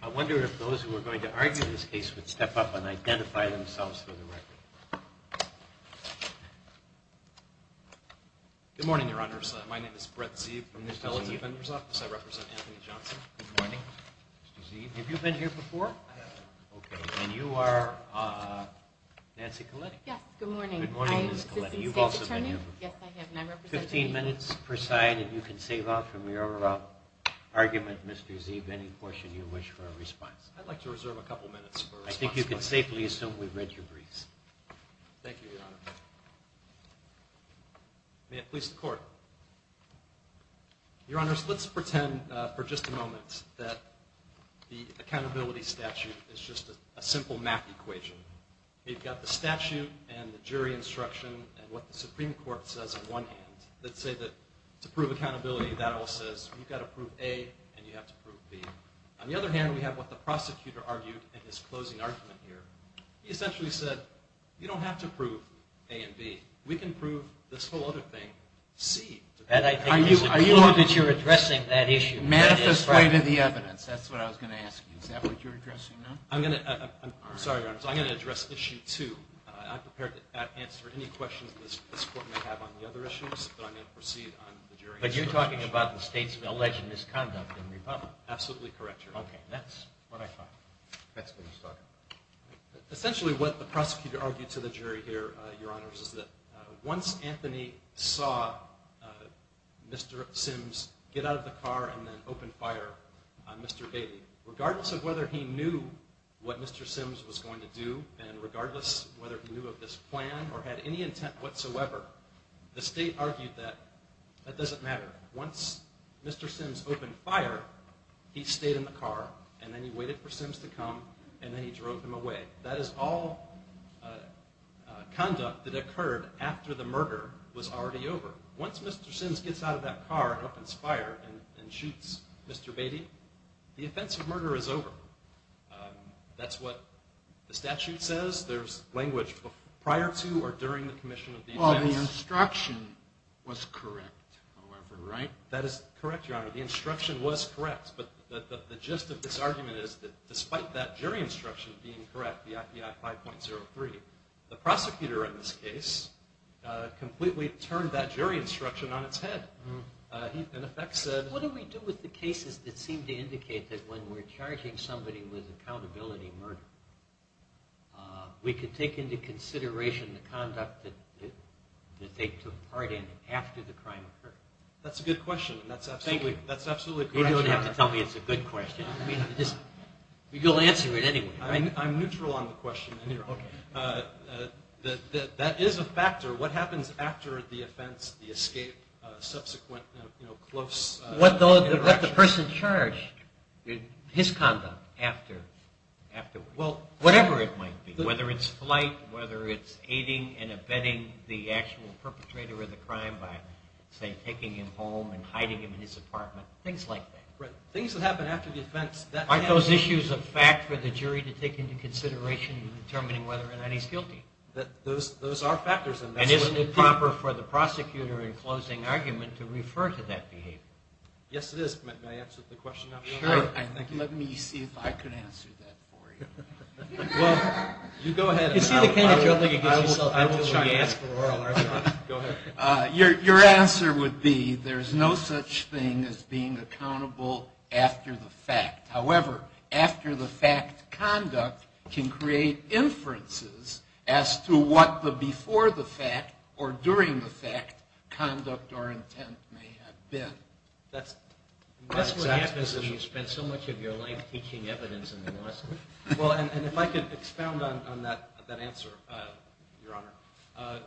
I wonder if those who are going to argue this case would step up and identify themselves for the record. Good morning, Your Honors. My name is Brett Zeve. I represent Anthony Johnson. Good morning, Mr. Zeve. Have you been here before? I have. Okay, and you are Nancy Coletti. Yes, good morning. Good morning, Ms. Coletti. You've also been here before. Fifteen minutes per side and you can save up from your argument, Mr. Zeve, any portion you wish for a response. I'd like to reserve a couple minutes for a response. I think you can safely assume we've read your briefs. Thank you, Your Honor. May it please the Court. Your Honors, let's pretend for just a moment that the accountability statute is just a simple math equation. You've got the statute and the jury instruction and what the Supreme Court says on one hand. Let's say that to prove accountability that all says you've got to prove A and you have to prove B. On the other hand, we have what the prosecutor argued in his closing argument here. He essentially said you don't have to prove A and B. We can prove this whole other thing, C. And I think it's important that you're addressing that issue. Manifest way to the evidence. That's what I was going to ask you. Is that what you're addressing now? I'm sorry, Your Honors. I'm going to address issue two. I'm prepared to answer any questions this Court may have on the other issues, but I'm going to proceed on the jury answer. But you're talking about the state's alleged misconduct in Republic. Absolutely correct, Your Honor. Okay. That's what I thought. Essentially what the prosecutor argued to the jury here, Your Honors, is that once Anthony saw Mr. Sims get out of the car and then open fire on Mr. Bailey, regardless of whether he knew what Mr. Sims was going to do and regardless of whether he knew of this plan or had any intent whatsoever, the state argued that that doesn't matter. Once Mr. Sims opened fire, he stayed in the car and then he waited for Sims to come and then he drove him away. That is all conduct that occurred after the murder was already over. Once Mr. Sims gets out of that car and opens fire and shoots Mr. Bailey, the offense of murder is over. That's what the statute says. There's language prior to or during the commission of the offense. Well, the instruction was correct, however, right? That is correct, Your Honor. The instruction was correct. But the gist of this argument is that despite that jury instruction being correct, the IPI 5.03, the prosecutor in this case completely turned that jury instruction on its head. What do we do with the cases that seem to indicate that when we're charging somebody with accountability murder, we could take into consideration the conduct that they took part in after the crime occurred? That's a good question. Thank you. That's absolutely correct, Your Honor. You don't have to tell me it's a good question. You'll answer it anyway, right? I'm neutral on the question. That is a factor. What happens after the offense, the escape, subsequent close interaction? What the person charged, his conduct afterwards. Well, whatever it might be, whether it's flight, whether it's aiding and abetting the actual perpetrator of the crime by, say, taking him home and hiding him in his apartment, things like that. Right. Things that happen after the offense. Aren't those issues a fact for the jury to take into consideration in determining whether or not he's guilty? Those are factors. And isn't it proper for the prosecutor in closing argument to refer to that behavior? Yes, it is. May I answer the question now? Sure. Thank you. Let me see if I can answer that for you. Well, you go ahead. I will try to ask for oral. Go ahead. Your answer would be there's no such thing as being accountable after the fact. However, after-the-fact conduct can create inferences as to what the before-the-fact or during-the-fact conduct or intent may have been. That's what happens when you spend so much of your life teaching evidence in the U.S. Well, and if I could expound on that answer, Your Honor,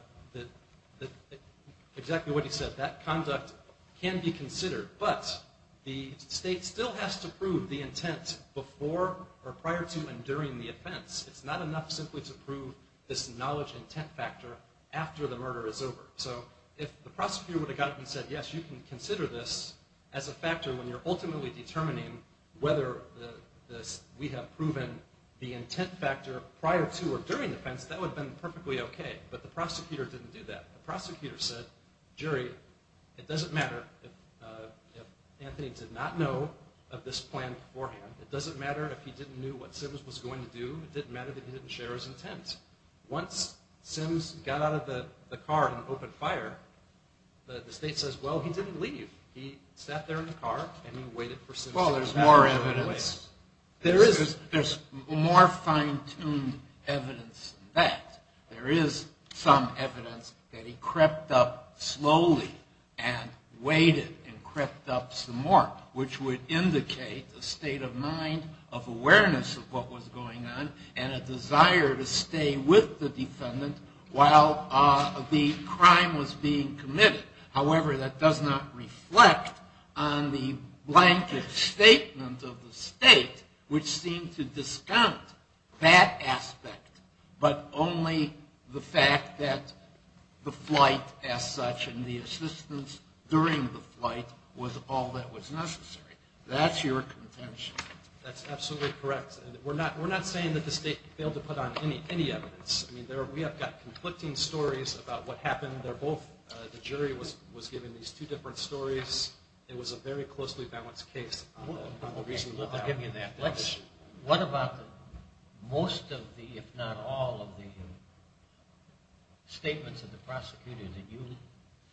exactly what he said. That conduct can be considered. But the state still has to prove the intent before or prior to and during the offense. It's not enough simply to prove this knowledge intent factor after the murder is over. So if the prosecutor would have gotten it and said, yes, you can consider this as a factor when you're ultimately determining whether we have proven the intent factor prior to or during the offense, that would have been perfectly okay. But the prosecutor didn't do that. The prosecutor said, jury, it doesn't matter if Anthony did not know of this plan beforehand. It doesn't matter if he didn't know what Sims was going to do. It didn't matter that he didn't share his intent. Once Sims got out of the car and opened fire, the state says, well, he didn't leave. He sat there in the car and he waited for Sims to get out of the way. Well, there's more evidence. There is. There's more fine-tuned evidence than that. There is some evidence that he crept up slowly and waited and crept up some more, which would indicate a state of mind of awareness of what was going on and a desire to stay with the defendant while the crime was being committed. However, that does not reflect on the blanket statement of the state, which seemed to discount that aspect but only the fact that the flight as such and the assistance during the flight was all that was necessary. That's your contention. That's absolutely correct. We're not saying that the state failed to put on any evidence. I mean, we have got conflicting stories about what happened. The jury was given these two different stories. It was a very closely balanced case. I'll give you that. What about most of the, if not all of the, statements of the prosecutor that you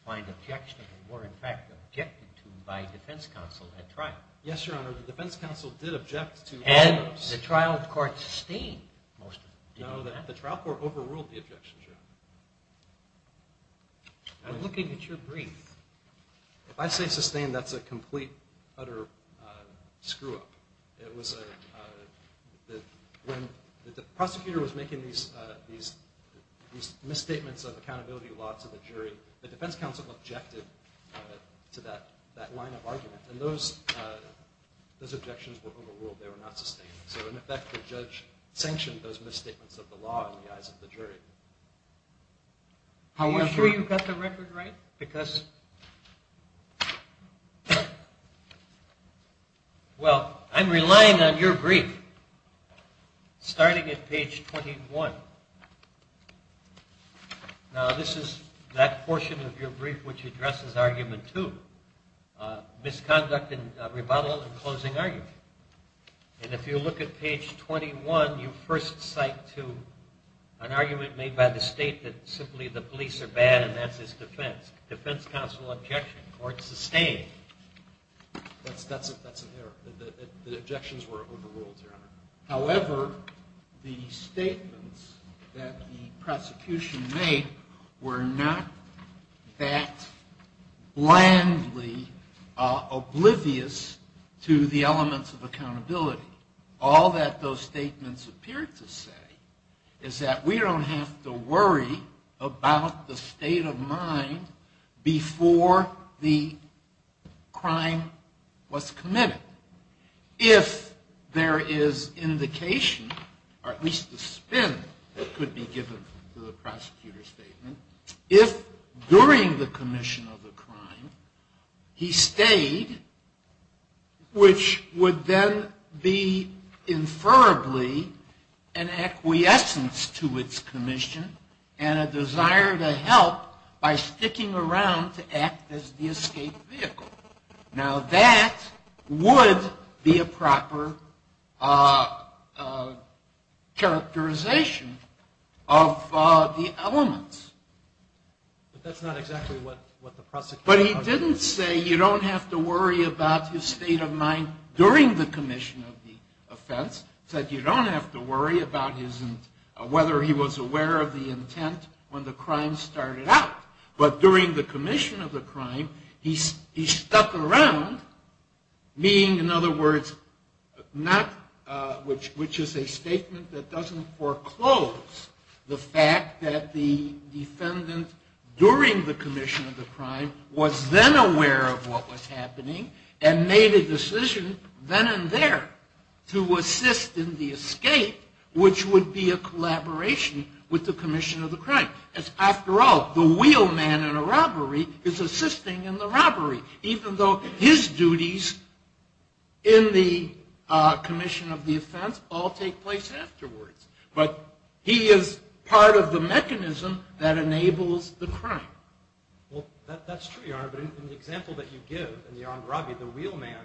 find objectionable were, in fact, objected to by defense counsel at trial? Yes, Your Honor, the defense counsel did object to all of those. And the trial court sustained most of them. No, the trial court overruled the objections, Your Honor. I'm looking at your brief. If I say sustained, that's a complete, utter screw-up. When the prosecutor was making these misstatements of accountability law to the jury, the defense counsel objected to that line of argument. And those objections were overruled. They were not sustained. So, in effect, the judge sanctioned those misstatements of the law in the eyes of the jury. Are you sure you've got the record right? Because, well, I'm relying on your brief, starting at page 21. Now, this is that portion of your brief which addresses argument two, misconduct and rebuttal and closing argument. And if you look at page 21, you first cite to an argument made by the state that simply the police are bad and that's its defense. Defense counsel objected. Court sustained. That's an error. The objections were overruled, Your Honor. However, the statements that the prosecution made were not that blandly oblivious to the elements of accountability. All that those statements appeared to say is that we don't have to worry about the state of mind before the crime was committed. If there is indication, or at least a spin that could be given to the prosecutor's statement, if during the commission of the crime he stayed, which would then be inferably an acquiescence to its commission and a desire to help by sticking around to act as the escape vehicle. Now, that would be a proper characterization of the elements. But that's not exactly what the prosecutor said. But he didn't say you don't have to worry about his state of mind during the commission of the offense. He said you don't have to worry about whether he was aware of the intent when the crime started out. But during the commission of the crime, he stuck around, meaning, in other words, which is a statement that doesn't foreclose the fact that the defendant during the commission of the crime was then aware of what was happening and made a decision then and there to assist in the escape, which would be a collaboration with the commission of the crime. After all, the wheelman in a robbery is assisting in the robbery, even though his duties in the commission of the offense all take place afterwards. But he is part of the mechanism that enables the crime. Well, that's true, Your Honor. But in the example that you give in the Andravi, the wheelman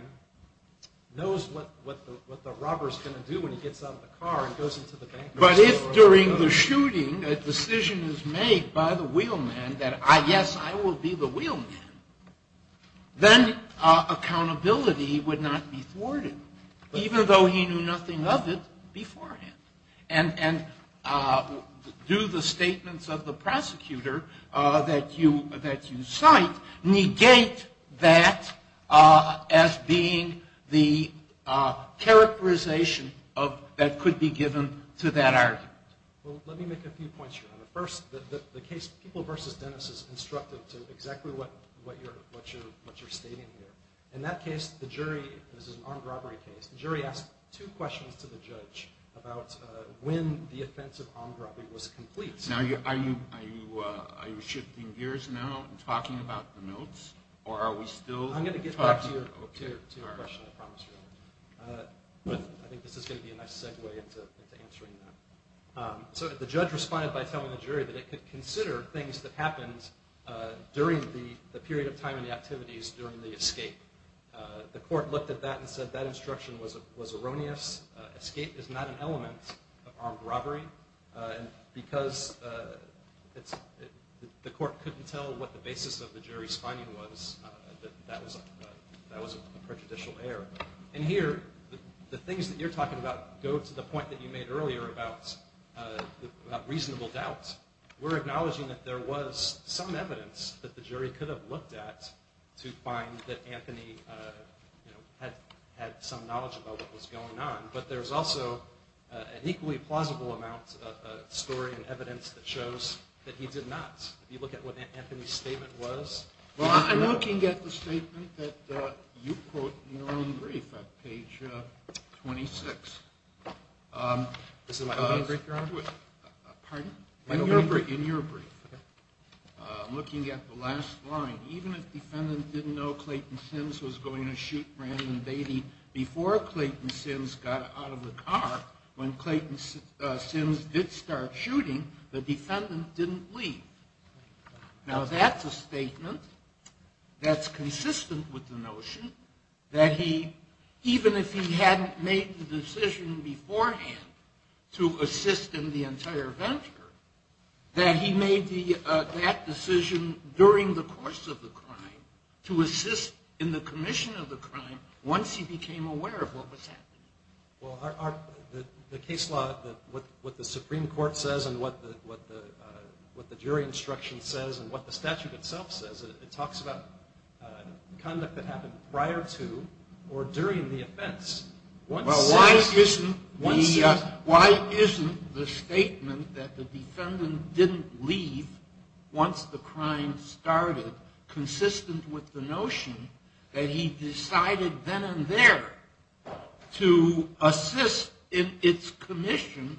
knows what the robber is going to do when he gets out of the car and goes into the bank. But if during the shooting a decision is made by the wheelman that, yes, I will be the wheelman, then accountability would not be thwarted, even though he knew nothing of it beforehand. And do the statements of the prosecutor that you cite negate that as being the characterization that could be given to that argument? Well, let me make a few points, Your Honor. First, the case People v. Dennis is instructive to exactly what you're stating here. In that case, the jury, this is an armed robbery case, the jury asked two questions to the judge about when the offense of armed robbery was complete. Now, are you shifting gears now and talking about the notes, or are we still talking? I'm going to get back to your question, I promise you. But I think this is going to be a nice segue into answering that. So the judge responded by telling the jury that it could consider things that happened during the period of time in the activities during the escape. The court looked at that and said that instruction was erroneous. Escape is not an element of armed robbery. And because the court couldn't tell what the basis of the jury's finding was, that was a prejudicial error. And here, the things that you're talking about go to the point that you made earlier about reasonable doubt. We're acknowledging that there was some evidence that the jury could have looked at to find that Anthony had some knowledge about what was going on. But there's also an equally plausible amount of story and evidence that shows that he did not. If you look at what Anthony's statement was. Well, I'm looking at the statement that you quote in your own brief at page 26. This is my own brief, Your Honor? Pardon? In your brief. I'm looking at the last line. Even if the defendant didn't know Clayton Sims was going to shoot Brandon Beatty before Clayton Sims got out of the car, when Clayton Sims did start shooting, the defendant didn't leave. Now, that's a statement that's consistent with the notion that he, even if he hadn't made the decision beforehand to assist in the entire venture, that he made that decision during the course of the crime to assist in the commission of the crime once he became aware of what was happening. Well, the case law, what the Supreme Court says and what the jury instruction says and what the statute itself says, it talks about conduct that happened prior to or during the offense. Well, why isn't the statement that the defendant didn't leave once the crime started consistent with the notion that he decided then and there to assist in its commission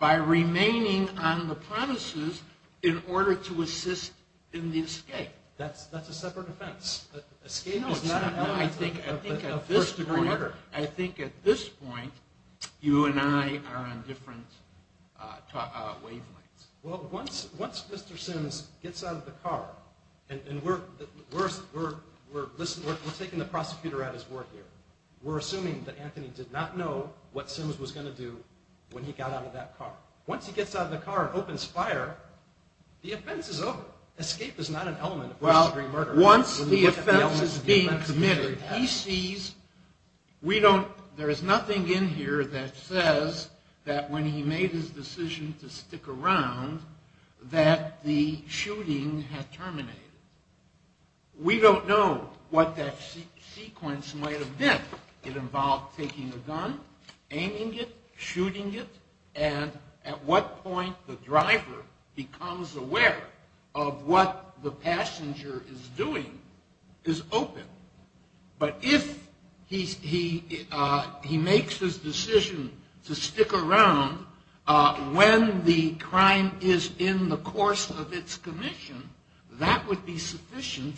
by remaining on the premises in order to assist in the escape? That's a separate offense. Escape is not a first degree murder. I think at this point, you and I are on different wavelengths. Well, once Mr. Sims gets out of the car, and we're taking the prosecutor at his word here, we're assuming that Anthony did not know what Sims was going to do when he got out of that car. Once he gets out of the car and opens fire, the offense is over. Escape is not an element of first degree murder. Well, once the offense is being committed, there is nothing in here that says that when he made his decision to stick around that the shooting had terminated. We don't know what that sequence might have been. It involved taking a gun, aiming it, shooting it, and at what point the driver becomes aware of what the passenger is doing is open. But if he makes his decision to stick around when the crime is in the course of its commission, that would be sufficient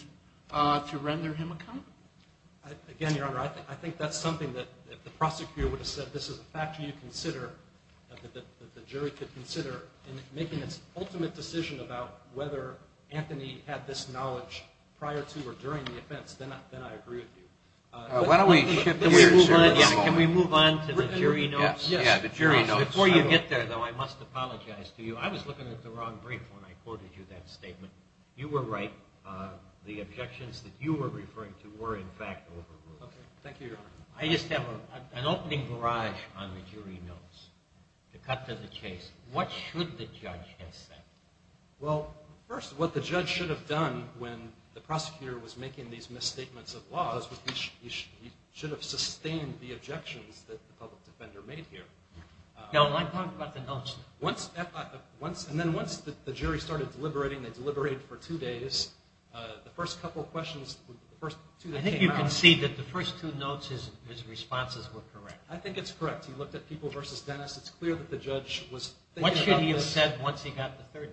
to render him accountable. Again, Your Honor, I think that's something that the prosecutor would have said, but this is a factor that the jury could consider in making its ultimate decision about whether Anthony had this knowledge prior to or during the offense. Then I agree with you. Why don't we shift gears here for this moment? Can we move on to the jury notes? Yes, the jury notes. Before you get there, though, I must apologize to you. I was looking at the wrong brief when I quoted you that statement. You were right. The objections that you were referring to were, in fact, overruled. Thank you, Your Honor. I just have an opening barrage on the jury notes to cut to the chase. What should the judge have said? Well, first, what the judge should have done when the prosecutor was making these misstatements of laws was he should have sustained the objections that the public defender made here. No, I'm talking about the notes. And then once the jury started deliberating, they deliberated for two days. The first couple of questions, the first two that came out— His responses were correct. I think it's correct. He looked at People v. Dennis. It's clear that the judge was— What should he have said once he got the third?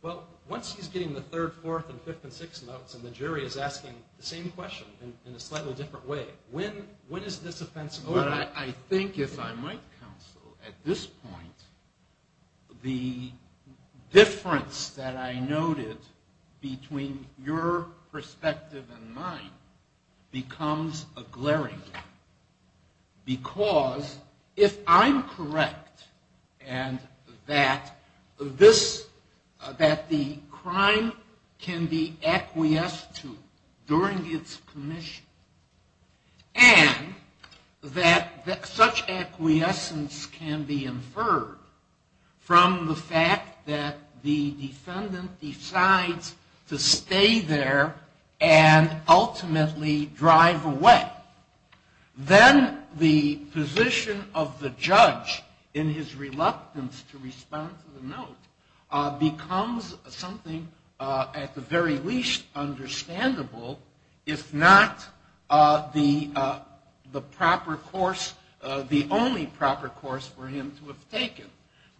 Well, once he's getting the third, fourth, and fifth and sixth notes and the jury is asking the same question in a slightly different way, when is this offense over? I think, as I might counsel, at this point, the difference that I noted between your perspective and mine becomes a glaring one because if I'm correct and that the crime can be acquiesced to during its commission and that such acquiescence can be inferred from the fact that the defendant decides to stay there and ultimately drive away, then the position of the judge in his reluctance to respond to the note becomes something at the very least understandable, if not the proper course, the only proper course for him to have taken.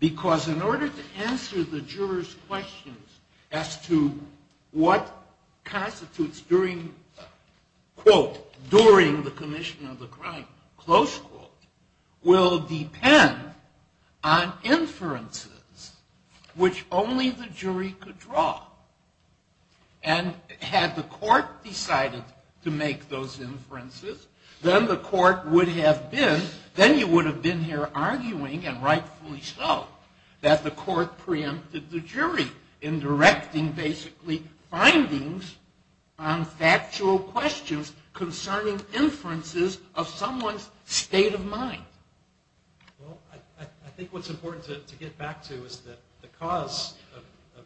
Because in order to answer the juror's questions as to what constitutes during, quote, during the commission of the crime, close quote, will depend on inferences which only the jury could draw. And had the court decided to make those inferences, then the court would have been, then you would have been here arguing, and rightfully so, that the court preempted the jury in directing basically findings on factual questions concerning inferences of someone's state of mind. Well, I think what's important to get back to is that the cause of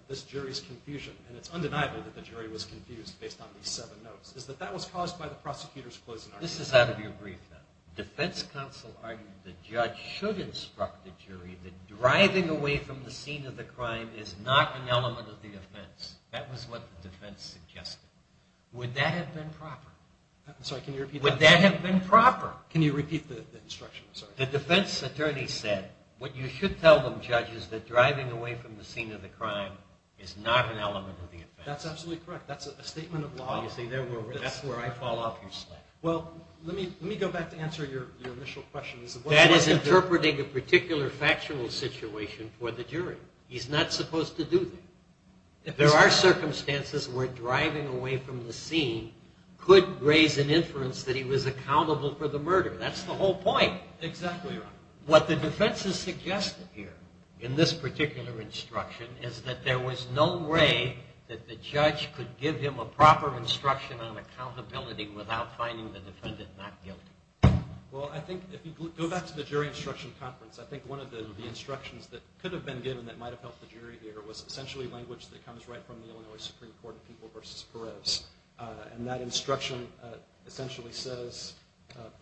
this jury's confusion, and it's undeniable that the jury was confused based on these seven notes, is that that was caused by the prosecutor's closing argument. This is out of your brief, then. The defense counsel argued the judge should instruct the jury that driving away from the scene of the crime is not an element of the offense. That was what the defense suggested. Would that have been proper? I'm sorry. Can you repeat that? Would that have been proper? Can you repeat the instruction? I'm sorry. The defense attorney said what you should tell the judge is that driving away from the scene of the crime is not an element of the offense. That's absolutely correct. That's a statement of law. You see, that's where I fall off your slack. Well, let me go back to answer your initial question. That is interpreting a particular factual situation for the jury. He's not supposed to do that. There are circumstances where driving away from the scene could raise an inference that he was accountable for the murder. That's the whole point. Exactly right. What the defense has suggested here in this particular instruction is that there was no way that the judge could give him a proper instruction on accountability without finding the defendant not guilty. Well, I think if you go back to the jury instruction conference, I think one of the instructions that could have been given that might have helped the jury here was essentially language that comes right from the Illinois Supreme Court in People v. Perez. That instruction essentially says,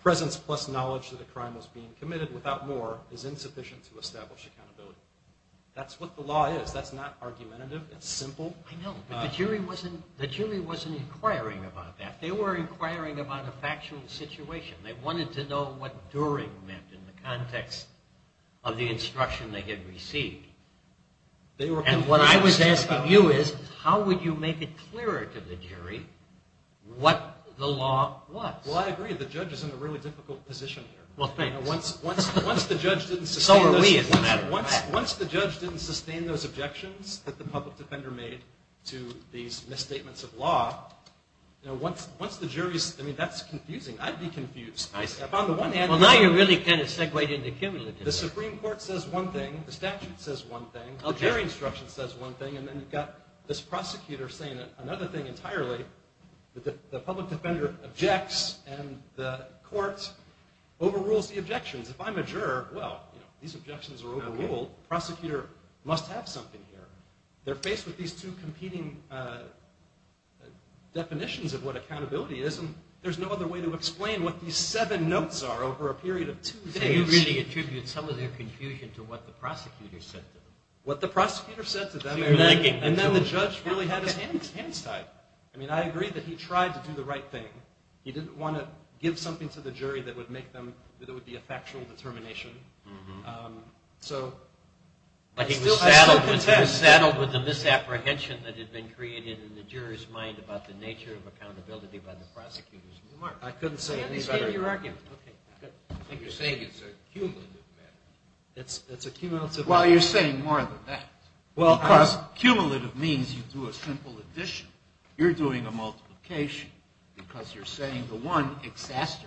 presence plus knowledge that a crime was being committed without more is insufficient to establish accountability. That's what the law is. That's not argumentative. It's simple. I know, but the jury wasn't inquiring about that. They were inquiring about a factual situation. They wanted to know what during meant in the context of the instruction they had received. And what I was asking you is, how would you make it clearer to the jury what the law was? Well, I agree. The judge is in a really difficult position here. Well, thanks. Once the judge didn't sustain those objections that the public defender made to these misstatements of law, once the jury's—I mean, that's confusing. I'd be confused. Well, now you're really kind of segwayed into cumulative. The Supreme Court says one thing. The statute says one thing. The jury instruction says one thing. And then you've got this prosecutor saying another thing entirely. The public defender objects, and the court overrules the objections. If I'm a juror, well, you know, these objections are overruled. The prosecutor must have something here. They're faced with these two competing definitions of what accountability is, and there's no other way to explain what these seven notes are over a period of two days. You really attribute some of their confusion to what the prosecutor said to them. What the prosecutor said to them, and then the judge really had his hands tied. I mean, I agree that he tried to do the right thing. He didn't want to give something to the jury that would make them—that would be a factual determination. So I still contend. But he was saddled with the misapprehension that had been created in the juror's mind about the nature of accountability by the prosecutors of Newmark. I couldn't say any better. He gave you your argument. Okay, good. You're saying it's a cumulative matter. It's a cumulative matter. Well, you're saying more than that. Well, because cumulative means you do a simple addition. You're doing a multiplication because you're saying the one exacerbates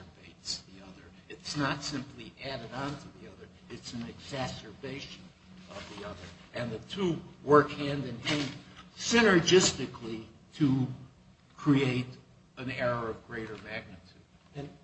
the other. It's not simply added on to the other. It's an exacerbation of the other. And the two work hand-in-hand synergistically to create an error of greater magnitude.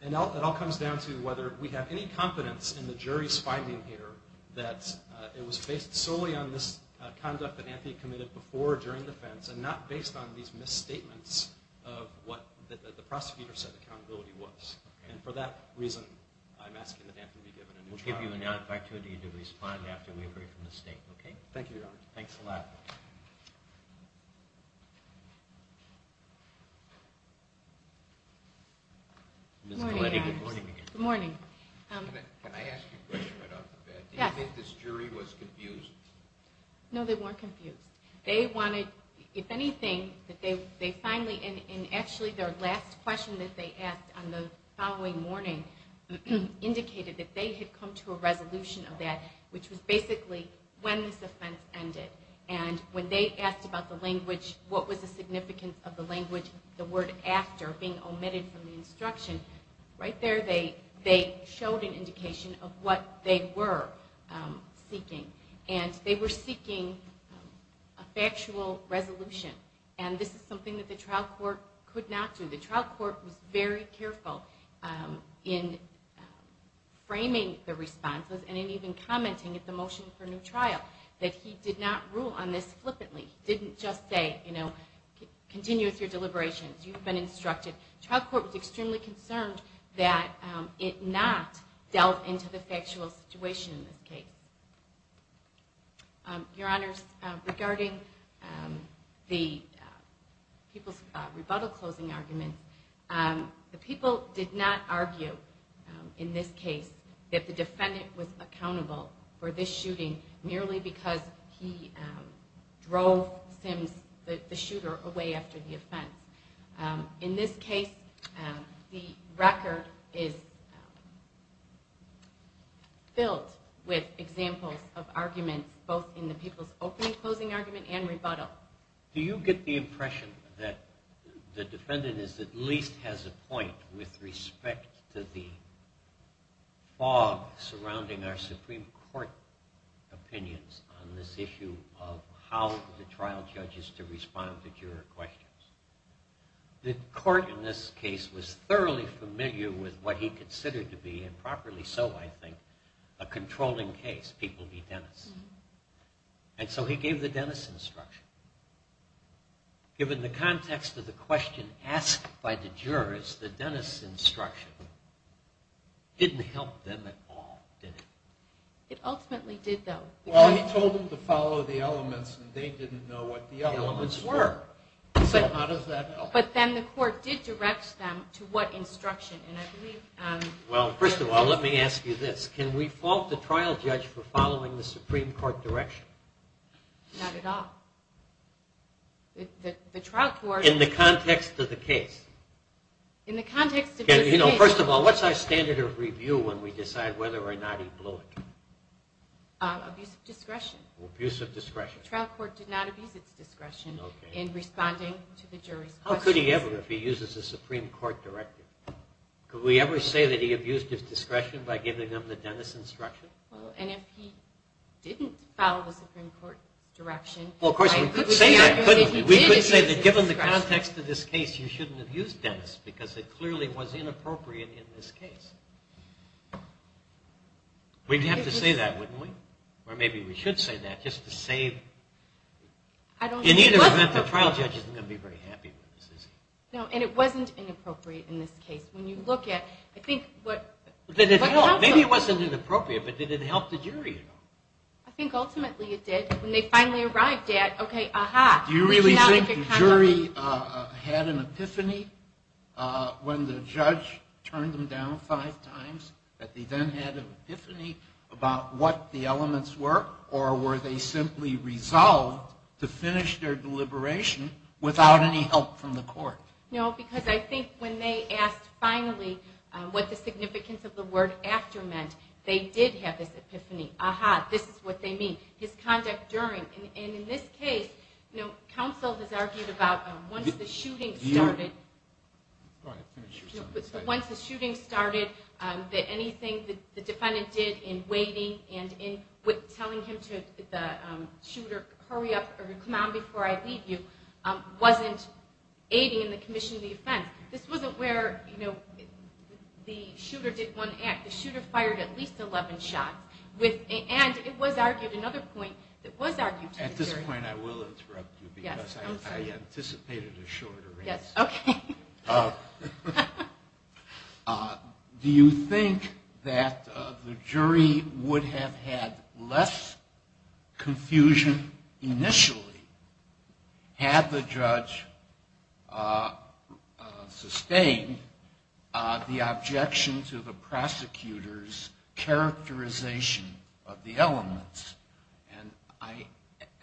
And it all comes down to whether we have any confidence in the jury's finding here that it was based solely on this conduct that Anthony committed before or during the offense and not based on these misstatements of what the prosecutor said the accountability was. And for that reason, I'm asking that Anthony be given a new trial. We'll give you an opportunity to respond after we agree from the state, okay? Thank you, Your Honor. Thanks a lot. Good morning, Your Honor. Good morning. Can I ask you a question right off the bat? Yes. Do you think this jury was confused? No, they weren't confused. They wanted, if anything, that they finally, and actually their last question that they asked on the following morning indicated that they had come to a resolution of that, which was basically when this offense ended. And when they asked about the language, what was the significance of the language, the word after being omitted from the instruction, right there they showed an indication of what they were seeking. And they were seeking a factual resolution. And this is something that the trial court could not do. The trial court was very careful in framing the responses and in even commenting at the motion for new trial, that he did not rule on this flippantly. He didn't just say, you know, continue with your deliberations. You've been instructed. The trial court was extremely concerned that it not delve into the factual situation in this case. Your Honors, regarding the people's rebuttal closing argument, the people did not argue in this case that the defendant was accountable for this shooting merely because he drove Sims, the shooter, away after the offense. In this case, the record is filled with examples of arguments, both in the people's opening closing argument and rebuttal. Do you get the impression that the defendant at least has a point with respect to the fog The court in this case was thoroughly familiar with what he considered to be, and properly so, I think, a controlling case, people v. Dennis. And so he gave the Dennis instruction. Given the context of the question asked by the jurors, the Dennis instruction didn't help them at all, did it? It ultimately did, though. Well, he told them to follow the elements, and they didn't know what the elements were. So how does that help? But then the court did direct them to what instruction? Well, first of all, let me ask you this. Can we fault the trial judge for following the Supreme Court direction? Not at all. In the context of the case? First of all, what's our standard of review when we decide whether or not he blew it? Abuse of discretion. Abuse of discretion. The trial court did not abuse its discretion in responding to the jury's questions. How could he ever if he uses the Supreme Court directive? Could we ever say that he abused his discretion by giving them the Dennis instruction? Well, and if he didn't follow the Supreme Court direction, Well, of course, we could say that, couldn't we? We could say that given the context of this case, you shouldn't have used Dennis, because it clearly was inappropriate in this case. We'd have to say that, wouldn't we? Or maybe we should say that just to save. In either event, the trial judge isn't going to be very happy with this, is he? No, and it wasn't inappropriate in this case. When you look at, I think what comes of it. Maybe it wasn't inappropriate, but did it help the jury at all? I think ultimately it did. When they finally arrived at, okay, aha. Do you really think the jury had an epiphany when the judge turned them down five times, that they then had an epiphany about what the elements were, or were they simply resolved to finish their deliberation without any help from the court? No, because I think when they asked finally what the significance of the word after meant, they did have this epiphany. Aha, this is what they mean. Once the shooting started, anything the defendant did in waiting and in telling him to hurry up or come out before I leave you, wasn't aiding in the commission of the offense. This wasn't where the shooter did one act. The shooter fired at least 11 shots. And it was argued, another point that was argued to the jury. This is a point I will interrupt you because I anticipated a shorter answer. Yes, okay. Do you think that the jury would have had less confusion initially had the judge sustained the objection to the prosecutor's characterization of the elements? And I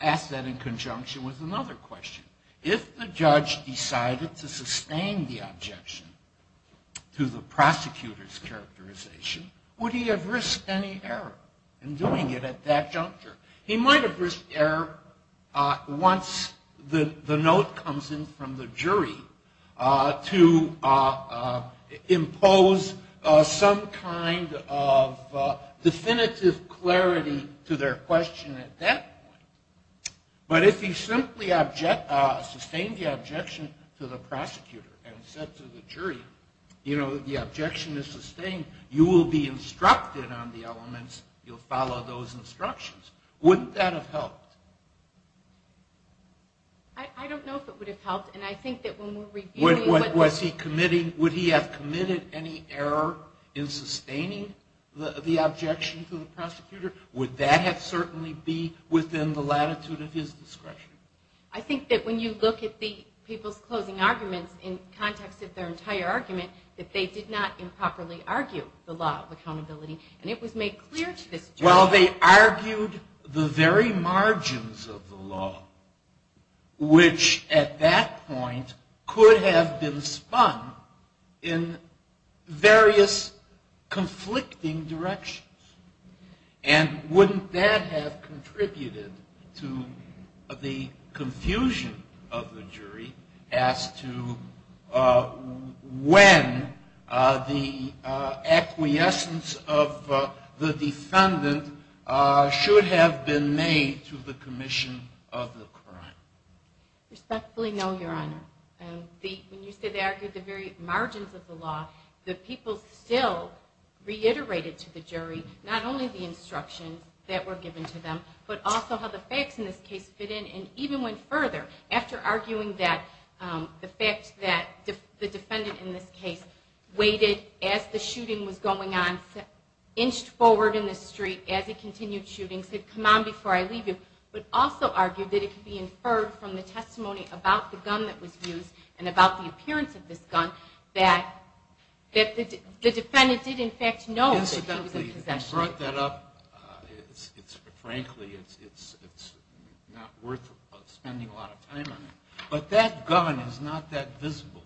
ask that in conjunction with another question. If the judge decided to sustain the objection to the prosecutor's characterization, would he have risked any error in doing it at that juncture? He might have risked error once the note comes in from the jury to impose some kind of definitive clarity to their question at that point. But if he simply sustained the objection to the prosecutor and said to the jury, you know, the objection is sustained, you will be instructed on the elements, you'll follow those instructions. Wouldn't that have helped? I don't know if it would have helped. And I think that when we're reviewing... Would he have committed any error in sustaining the objection to the prosecutor? Would that have certainly be within the latitude of his discretion? I think that when you look at the people's closing arguments in context of their entire argument, that they did not improperly argue the law of accountability. And it was made clear to this jury... Well, they argued the very margins of the law, which at that point could have been spun in various conflicting directions. And wouldn't that have contributed to the confusion of the jury as to when the acquiescence of the defendant should have been made to the commission of the crime? Respectfully, no, Your Honor. When you said they argued the very margins of the law, the people still reiterated to the jury not only the instructions that were given to them, but also how the facts in this case fit in and even went further. After arguing that the fact that the defendant in this case waited as the shooting was going on, inched forward in the street as he continued shooting, said, come on before I leave you, but also argued that it could be inferred from the testimony about the gun that was used and about the appearance of this gun that the defendant did in fact know that he was in possession of it. Incidentally, he brought that up. Frankly, it's not worth spending a lot of time on it. But that gun is not that visible.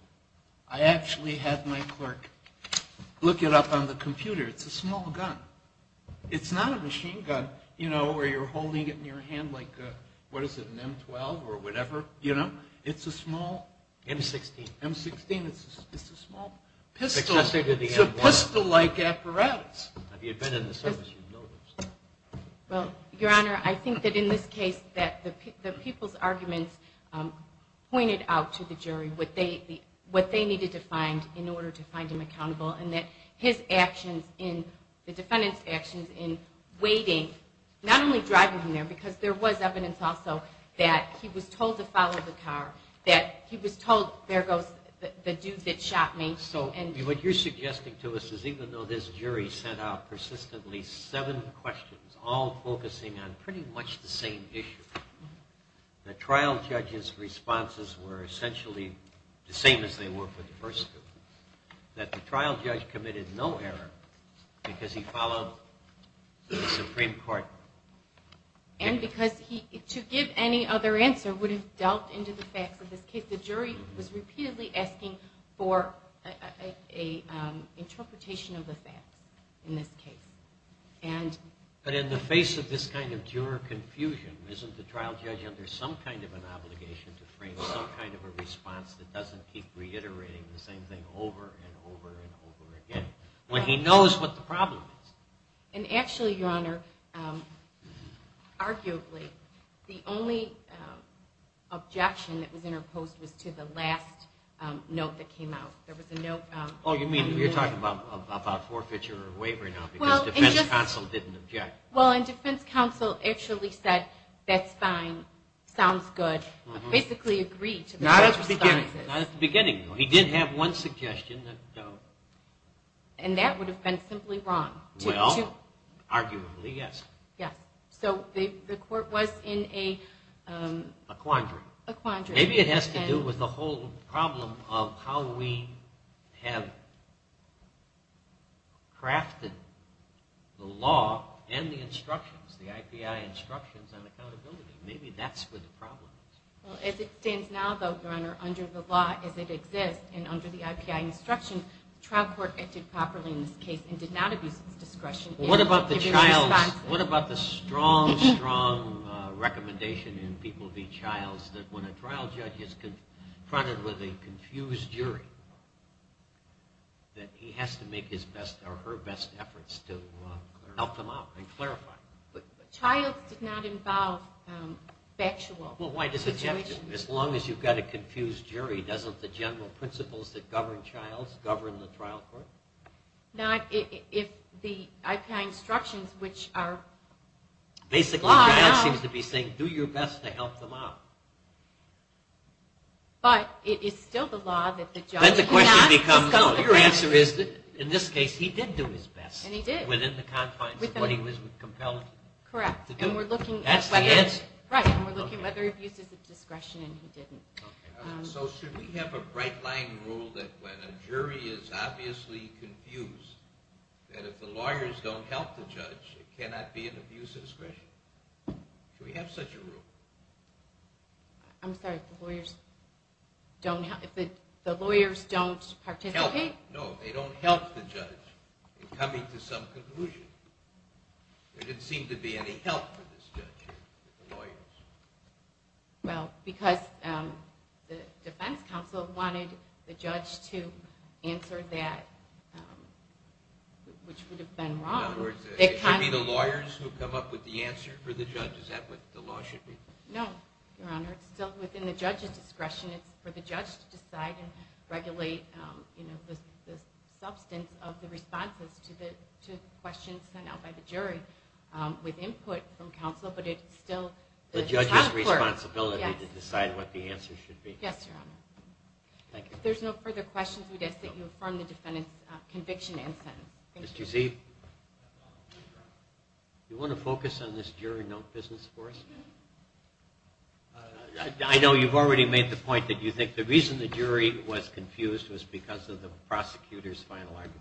I actually had my clerk look it up on the computer. It's a small gun. It's not a machine gun, you know, where you're holding it in your hand like an M-12 or whatever. It's a small M-16. It's a small pistol. It's a pistol-like apparatus. Have you been in the service? Well, Your Honor, I think that in this case that the people's arguments pointed out to the jury what they needed to find in order to find him accountable and that his actions in the defendant's actions in waiting, not only driving him there because there was evidence also that he was told to follow the car, that he was told, there goes the dude that shot me. So what you're suggesting to us is even though this jury sent out persistently seven questions all focusing on pretty much the same issue, the trial judge's responses were essentially the same as they were for the first two, that the trial judge committed no error because he followed the Supreme Court. And because to give any other answer would have delved into the facts of this case. The jury was repeatedly asking for an interpretation of the facts in this case. But in the face of this kind of juror confusion, isn't the trial judge under some kind of an obligation to frame some kind of a response that doesn't keep reiterating the same thing over and over and over again when he knows what the problem is? And actually, Your Honor, arguably the only objection that was interposed was to the last note that came out. There was a note. Oh, you mean you're talking about forfeiture or waiver now because defense counsel didn't object. Well, and defense counsel actually said that's fine, sounds good, basically agreed. Not at the beginning. Not at the beginning. He did have one suggestion. And that would have been simply wrong. Well, arguably, yes. Yes. So the court was in a... A quandary. A quandary. Maybe it has to do with the whole problem of how we have crafted the law and the instructions, the IPI instructions on accountability. Maybe that's where the problem is. Well, as it stands now, though, Your Honor, under the law as it exists and under the IPI instructions, the trial court acted properly in this case and did not abuse its discretion in giving responses. What about the strong, strong recommendation in People v. Childs that when a trial judge is confronted with a confused jury that he has to make his best or her best efforts to help them out and clarify? Childs did not involve factual situations. Well, why does it have to? As long as you've got a confused jury, doesn't the general principles that govern Childs govern the trial court? Now, if the IPI instructions, which are... Basically, the judge seems to be saying do your best to help them out. But it is still the law that the judge... Then the question becomes, no, your answer is that in this case he did do his best. And he did. Within the confines of what he was compelled to do. Correct. That's the answer. Right, and we're looking whether abuse is a discretion and he didn't. So should we have a bright-line rule that when a jury is obviously confused, that if the lawyers don't help the judge, it cannot be an abuse of discretion? Should we have such a rule? I'm sorry, if the lawyers don't participate? No, they don't help the judge in coming to some conclusion. There didn't seem to be any help for this judge. Well, because the defense counsel wanted the judge to answer that, which would have been wrong. In other words, it should be the lawyers who come up with the answer for the judge. Is that what the law should be? No, Your Honor. It's still within the judge's discretion. It's for the judge to decide and regulate the substance of the responses to questions sent out by the jury with input from counsel, but it's still the task force. The judge's responsibility to decide what the answer should be. Yes, Your Honor. Thank you. If there's no further questions, we'd ask that you affirm the defendant's conviction and sentence. Thank you. Mr. Z, do you want to focus on this jury note business for us? I know you've already made the point that you think the reason the jury was confused was because of the prosecutor's final argument.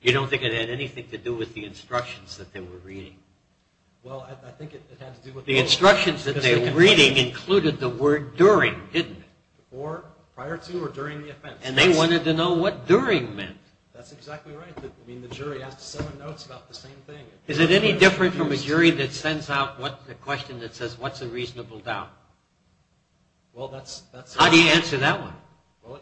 You don't think it had anything to do with the instructions that they were reading? Well, I think it had to do with the instructions. The instructions that they were reading included the word during, didn't it? Or prior to or during the offense. And they wanted to know what during meant. That's exactly right. I mean, the jury has to send notes about the same thing. Is it any different from a jury that sends out a question that says, what's a reasonable doubt? How do you answer that one? Well,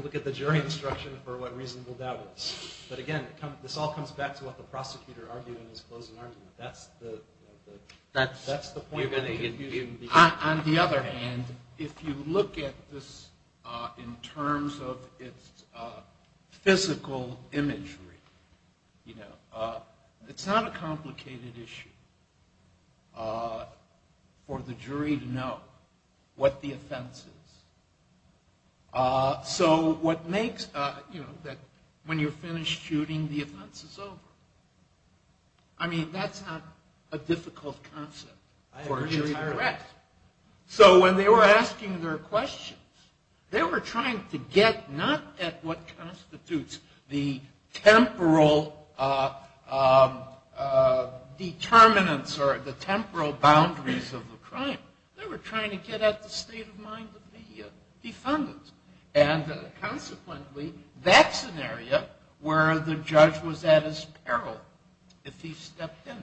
look at the jury instruction for what reasonable doubt is. But, again, this all comes back to what the prosecutor argued in his closing argument. That's the point of the confusion. On the other hand, if you look at this in terms of its physical imagery, you know, it's not a complicated issue for the jury to know what the offense is. So what makes, you know, when you're finished shooting, the offense is over. I mean, that's not a difficult concept for a jury to grasp. So when they were asking their questions, they were trying to get not at what constitutes the temporal determinants or the temporal boundaries of the crime. They were trying to get at the state of mind of the defendant. And, consequently, that's an area where the judge was at his peril if he stepped in.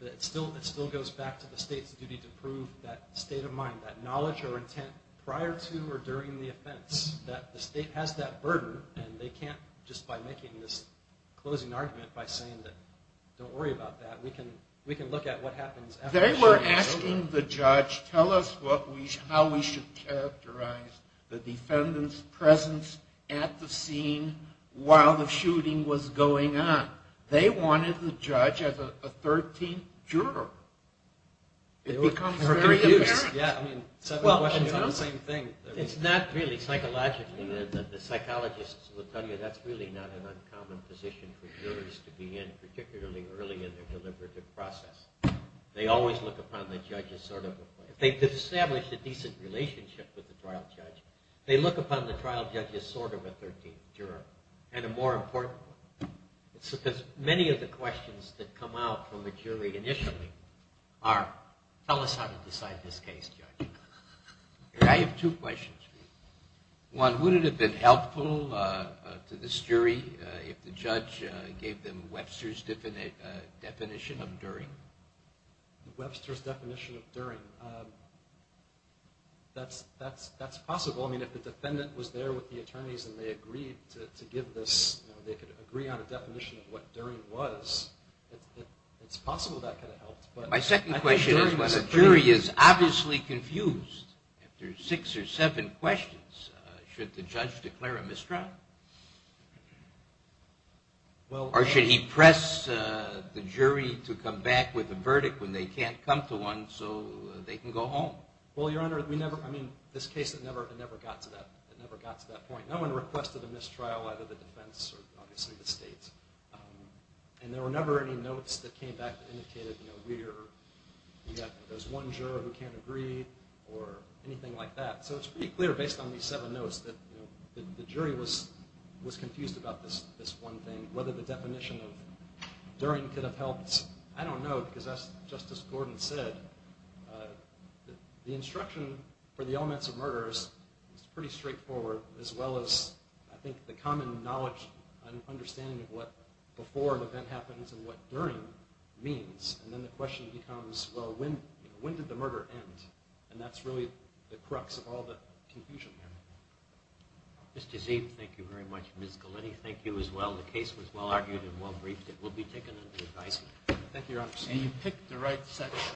It still goes back to the state's duty to prove that state of mind, that knowledge or intent prior to or during the offense, that the state has that burden, and they can't just by making this closing argument by saying that, don't worry about that, we can look at what happens after the shooting is over. They were asking the judge, tell us how we should characterize the defendant's presence at the scene while the shooting was going on. They wanted the judge as a 13th juror. It becomes very apparent. It's not really psychologically. The psychologists will tell you that's really not an uncommon position for jurors to be in, particularly early in their deliberative process. They always look upon the judge as sort of a 13th juror. They've established a decent relationship with the trial judge. They look upon the trial judge as sort of a 13th juror. And a more important one. It's because many of the questions that come out from the jury initially are, tell us how to decide this case, judge. I have two questions. One, would it have been helpful to this jury if the judge gave them Webster's definition of during? Webster's definition of during. That's possible. I mean, if the defendant was there with the attorneys and they agreed to give this, they could agree on a definition of what during was, it's possible that could have helped. My second question is when a jury is obviously confused, if there's six or seven questions, should the judge declare a misdraw? Or should he press the jury to come back with a verdict when they can't come to one so they can go home? Well, Your Honor, we never, I mean, this case, it never got to that point. No one requested a mistrial, either the defense or obviously the state. And there were never any notes that came back that indicated, you know, there's one juror who can't agree or anything like that. So it's pretty clear based on these seven notes that the jury was confused about this one thing, whether the definition of during could have helped. I don't know because that's just as Gordon said. The instruction for the elements of murder is pretty straightforward, as well as I think the common knowledge and understanding of what before an event happens and what during means. And then the question becomes, well, when did the murder end? And that's really the crux of all the confusion here. Mr. Zeeb, thank you very much. Ms. Galetti, thank you as well. The case was well-argued and well-briefed. It will be taken under advisement. Thank you, Your Honor.